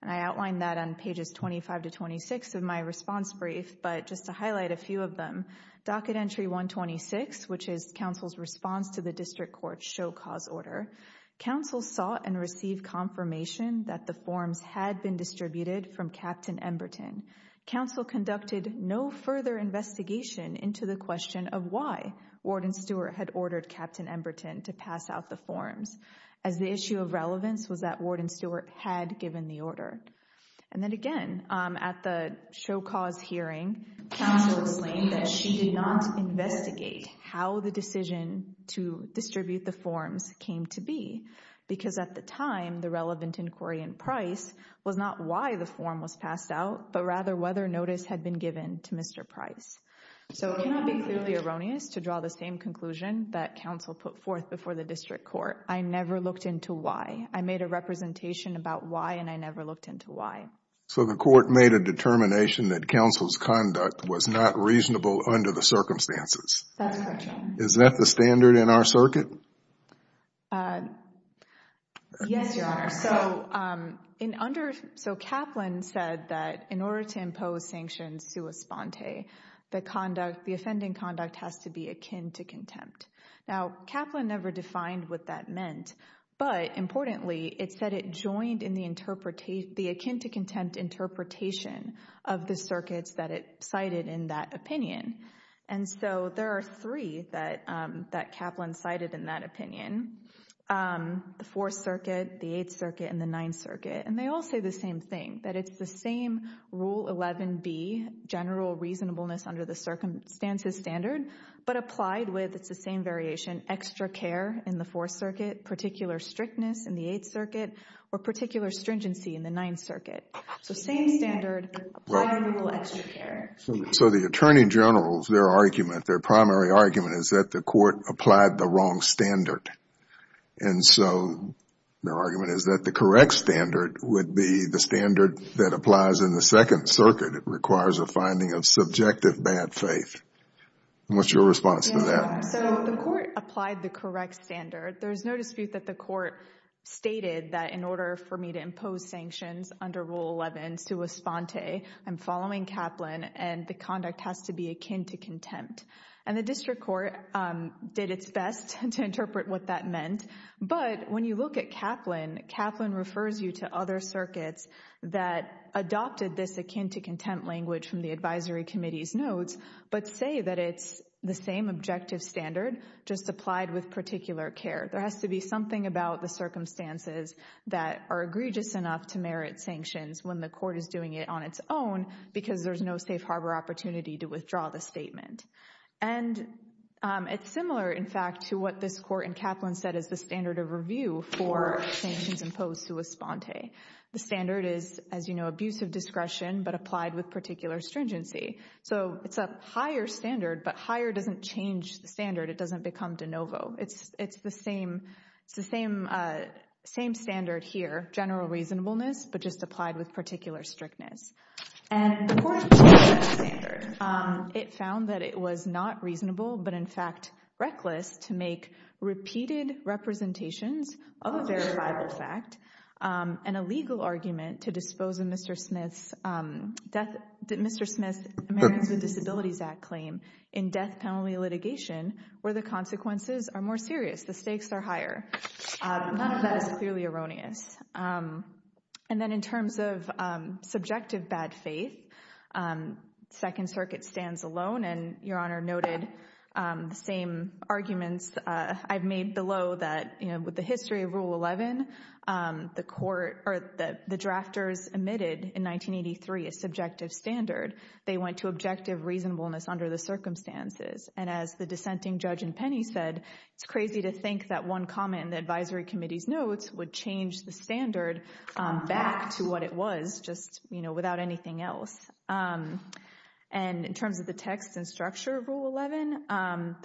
And I outlined that on pages 25 to 26 of my response brief. But just to highlight a few of them, docket entry 126, which is counsel's response to the district court's show cause order, counsel sought and received confirmation that the forms had been distributed from Captain Emberton. Counsel conducted no further investigation into the question of why Warden Stewart had ordered Captain Emberton to pass out the forms, as the issue of relevance was that Warden Stewart had given the order. And then again, at the show cause hearing, counsel explained that she did not investigate how the decision to distribute the forms came to be, because at the time, the relevant inquiry in Price was not why the form was passed out, but rather whether notice had been given to Mr. Price. So it cannot be clearly erroneous to draw the same conclusion that counsel put forth before the district court. I never looked into why. I made a representation about why, and I never looked into why. So the court made a determination that counsel's conduct was not reasonable under the circumstances. That's correct, Your Honor. Is that the standard in our circuit? Yes, Your Honor. So Kaplan said that in order to impose sanctions sua sponte, the offending conduct has to be akin to contempt. Now Kaplan never defined what that meant. But importantly, it said it joined in the akin to contempt interpretation of the circuits that it cited in that opinion. And so there are three that Kaplan cited in that opinion. The Fourth Circuit, the Eighth Circuit, and the Ninth Circuit. And they all say the same thing, that it's the same Rule 11B, general reasonableness under the circumstances standard, but applied with, it's the same variation, extra care in the Fourth Circuit, particular strictness in the Eighth Circuit, or particular stringency in the Ninth Circuit. So same standard, applied with extra care. So the attorney generals, their argument, their primary argument is that the court applied the wrong standard. And so their argument is that the correct standard would be the standard that applies in the Second Circuit. It requires a finding of subjective bad faith. What's your response to that? So the court applied the correct standard. There's no dispute that the court stated that in order for me to impose sanctions under Rule 11 sua sponte, I'm following Kaplan and the conduct has to be akin to contempt. And the district court did its best to interpret what that meant. But when you look at Kaplan, Kaplan refers you to other circuits but say that it's the same objective standard, just applied with particular care. There has to be something about the circumstances that are egregious enough to merit sanctions when the court is doing it on its own because there's no safe harbor opportunity to withdraw the statement. And it's similar, in fact, to what this court in Kaplan said is the standard of review for sanctions imposed sua sponte. The standard is, as you know, abuse of discretion, but applied with particular stringency. So it's a higher standard, but higher doesn't change the standard. It doesn't become de novo. It's the same standard here, general reasonableness, but just applied with particular strictness. And the court took that standard. It found that it was not reasonable, but in fact reckless, to make repeated representations of a verifiable fact and a legal argument to dispose of Mr. Smith's Americans with Disabilities Act claim in death penalty litigation where the consequences are more serious, the stakes are higher. None of that is clearly erroneous. And then in terms of subjective bad faith, Second Circuit stands alone, and Your Honor noted the same arguments I've made below that with the history of Rule 11, the drafters omitted in 1983 a subjective standard. They went to objective reasonableness under the circumstances. And as the dissenting judge in Penny said, it's crazy to think that one comment in the advisory committee's notes would change the standard back to what it was just without anything else. And in terms of the text and structure of Rule 11,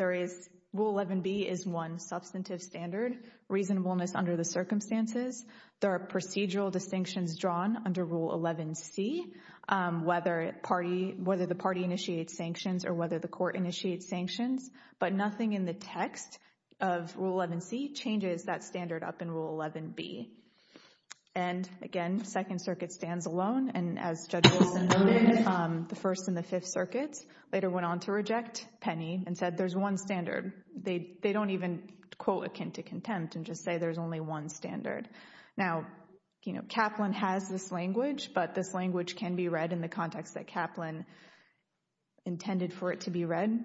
Rule 11B is one substantive standard, reasonableness under the circumstances. There are procedural distinctions drawn under Rule 11C, whether the party initiates sanctions or whether the court initiates sanctions. But nothing in the text of Rule 11C changes that standard up in Rule 11B. And again, Second Circuit stands alone. And as Judge Wilson noted, the First and the Fifth Circuits later went on to reject Penny and said there's one standard. They don't even quote akin to contempt and just say there's only one standard. Now, Kaplan has this language, but this language can be read in the context that Kaplan intended for it to be read,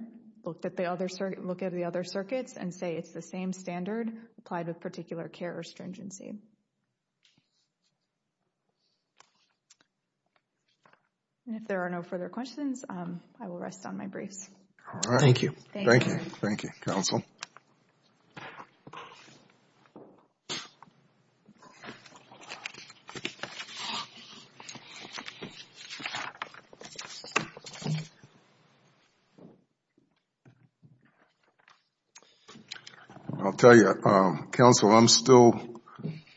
looked at the other circuits and say it's the same standard applied with particular care or stringency. And if there are no further questions, I will rest on my briefs. Thank you. Thank you. Thank you, Counsel. I'll tell you, Counsel, I'm still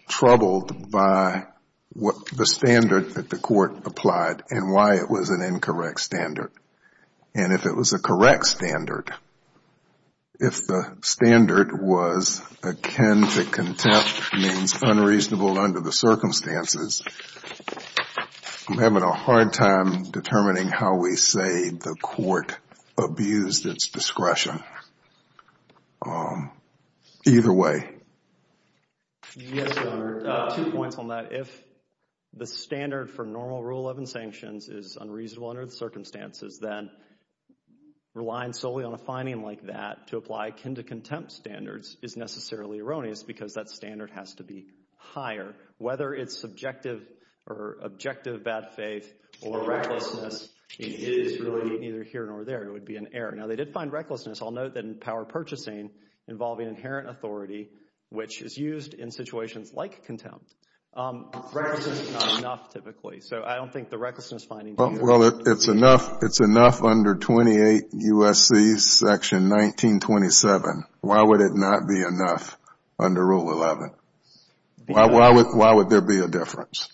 troubled by the standard that the court applied and why it was an incorrect standard. And if it was a correct standard, if the standard was akin to contempt, means unreasonable under the circumstances, I'm having a hard time determining how we say the court abused its discretion. Either way. Yes, Your Honor. Two points on that. If the standard for normal Rule 11 sanctions is unreasonable under the circumstances, then relying solely on a finding like that to apply akin to contempt standards is necessarily erroneous because that standard has to be higher. Whether it's subjective or objective bad faith or recklessness, it is really neither here nor there. It would be an error. Now, they did find recklessness. I'll note that in power purchasing involving inherent authority, which is used in situations like contempt, recklessness is not enough typically. So I don't think the recklessness finding... Well, it's enough under 28 U.S.C. Section 1927. Why would it not be enough under Rule 11? Why would there be a difference?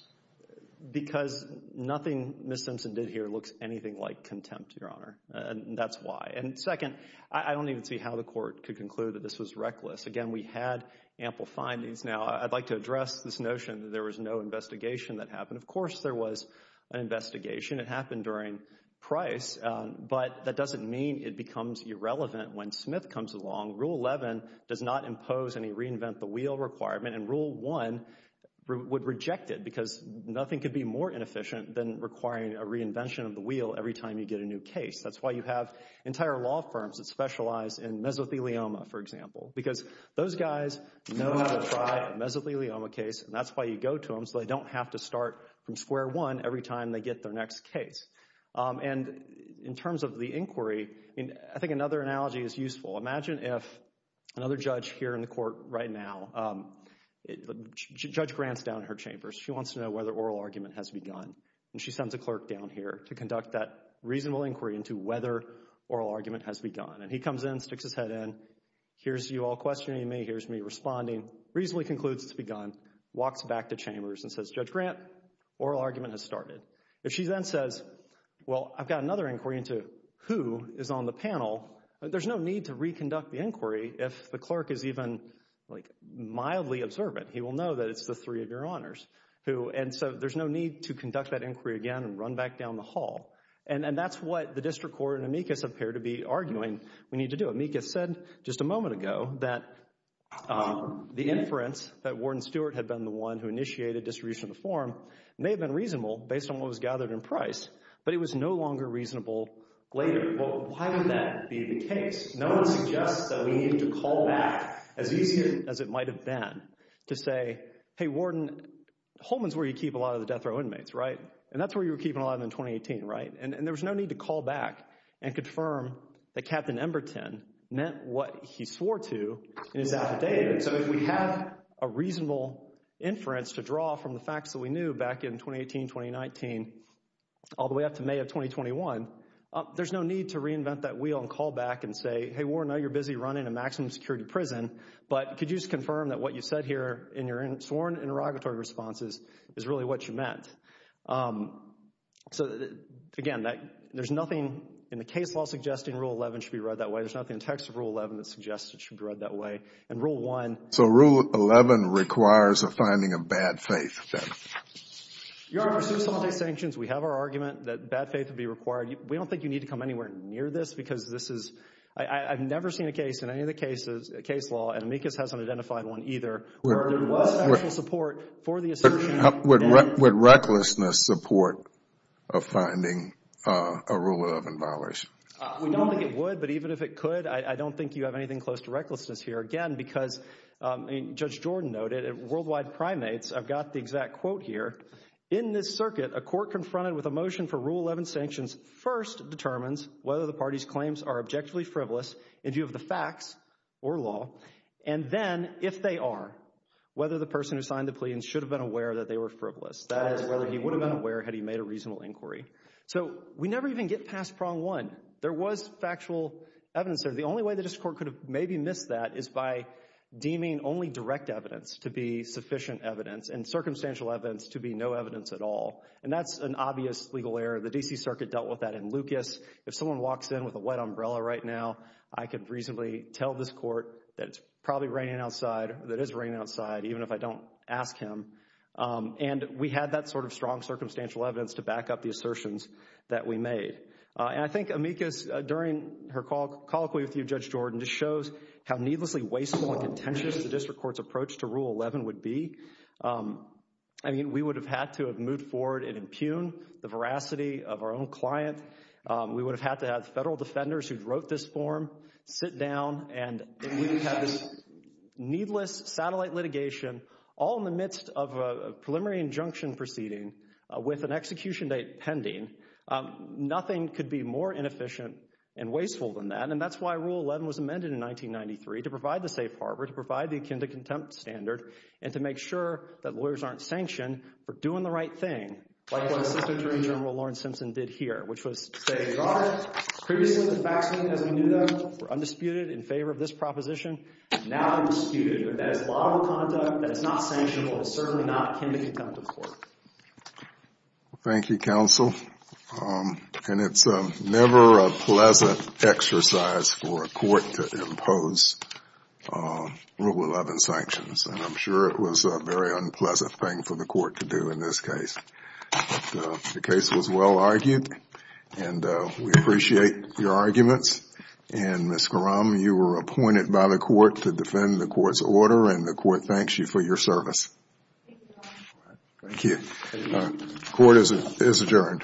Because nothing Ms. Simpson did here looks anything like contempt, Your Honor, and that's why. And second, I don't even see how the court could conclude that this was reckless. Again, we had ample findings. Now, I'd like to address this notion that there was no investigation that happened. Of course, there was an investigation. It happened during Price, but that doesn't mean it becomes irrelevant when Smith comes along. Rule 11 does not impose any reinvent-the-wheel requirement, and Rule 1 would reject it because nothing could be more inefficient than requiring a reinvention of the wheel every time you get a new case. That's why you have entire law firms that specialize in mesothelioma, for example, because those guys know how to try a mesothelioma case, and that's why you go to them so they don't have to start from square one every time they get their next case. And in terms of the inquiry, I think another analogy is useful. Imagine if another judge here in the court right now, Judge Grant's down in her chambers. She wants to know whether oral argument has begun, and she sends a clerk down here to conduct that reasonable inquiry into whether oral argument has begun. And he comes in, sticks his head in, hears you all questioning me, hears me responding, reasonably concludes it's begun, walks back to chambers and says, Judge Grant, oral argument has started. If she then says, well, I've got another inquiry into who is on the panel, there's no need to reconduct the inquiry if the clerk is even mildly observant. He will know that it's the three of your honors. And so there's no need to conduct that inquiry again and run back down the hall. And that's what the district court and amicus appear to be arguing we need to do. Amicus said just a moment ago that the inference that Warden Stewart had been the one who initiated distribution of the form may have been reasonable based on what was gathered in price, but it was no longer reasonable later. Well, why would that be the case? No one suggests that we need to call back as easy as it might have been to say, hey, Warden, Holman's where you keep a lot of the death row inmates, right? And that's where you were keeping a lot of them in 2018, right? And there was no need to call back and confirm that Captain Emberton meant what he swore to in his affidavit. So if we have a reasonable inference to draw from the facts that we knew back in 2018, 2019, all the way up to May of 2021, there's no need to reinvent that wheel and call back and say, hey, Warden, I know you're busy running a maximum security prison, but could you just confirm that what you said here in your sworn interrogatory responses is really what you meant? So, again, there's nothing in the case law suggesting Rule 11 should be read that way. There's nothing in the text of Rule 11 that suggests it should be read that way. And Rule 1— So Rule 11 requires a finding of bad faith, then? Your Honor, since all these sanctions, we have our argument that bad faith would be required. We don't think you need to come anywhere near this because this is—I've never seen a case in any of the cases, a case law, and amicus hasn't identified one either, where there was special support for the assertion— Would recklessness support a finding of Rule 11 violation? We don't think it would, but even if it could, I don't think you have anything close to recklessness here. Again, because Judge Jordan noted, worldwide primates—I've got the exact quote here— in this circuit, a court confronted with a motion for Rule 11 sanctions first determines whether the party's claims are objectively frivolous, if you have the facts or law, and then, if they are, whether the person who signed the plea should have been aware that they were frivolous. That is, whether he would have been aware had he made a reasonable inquiry. So we never even get past prong one. There was factual evidence there. The only way that this court could have maybe missed that is by deeming only direct evidence to be sufficient evidence and circumstantial evidence to be no evidence at all, and that's an obvious legal error. The D.C. Circuit dealt with that in Lucas. If someone walks in with a wet umbrella right now, I could reasonably tell this court that it's probably raining outside, that it is raining outside, even if I don't ask him, and we had that sort of strong circumstantial evidence to back up the assertions that we made. And I think Amicus, during her colloquy with you, Judge Jordan, just shows how needlessly wasteful and contentious the district court's approach to Rule 11 would be. I mean, we would have had to have moved forward and impugned the veracity of our own client. We would have had to have federal defenders who wrote this form sit down, and we would have had this needless satellite litigation all in the midst of a preliminary injunction proceeding with an execution date pending. Nothing could be more inefficient and wasteful than that, and that's why Rule 11 was amended in 1993 to provide the safe harbor, to provide the akin to contempt standard, and to make sure that lawyers aren't sanctioned for doing the right thing, like what Assistant Attorney General Lawrence Simpson did here, which was to say, they got it. Previously, the facts as we knew them were undisputed in favor of this proposition, and now they're disputed, but that is lawful conduct that is not sanctionable. It's certainly not akin to contempt of court. Thank you, Counsel. And it's never a pleasant exercise for a court to impose Rule 11 sanctions, and I'm sure it was a very unpleasant thing for the court to do in this case. But the case was well argued, and we appreciate your arguments. And Ms. Graham, you were appointed by the court to defend the court's order, and the court thanks you for your service. Thank you. Court is adjourned. All rise.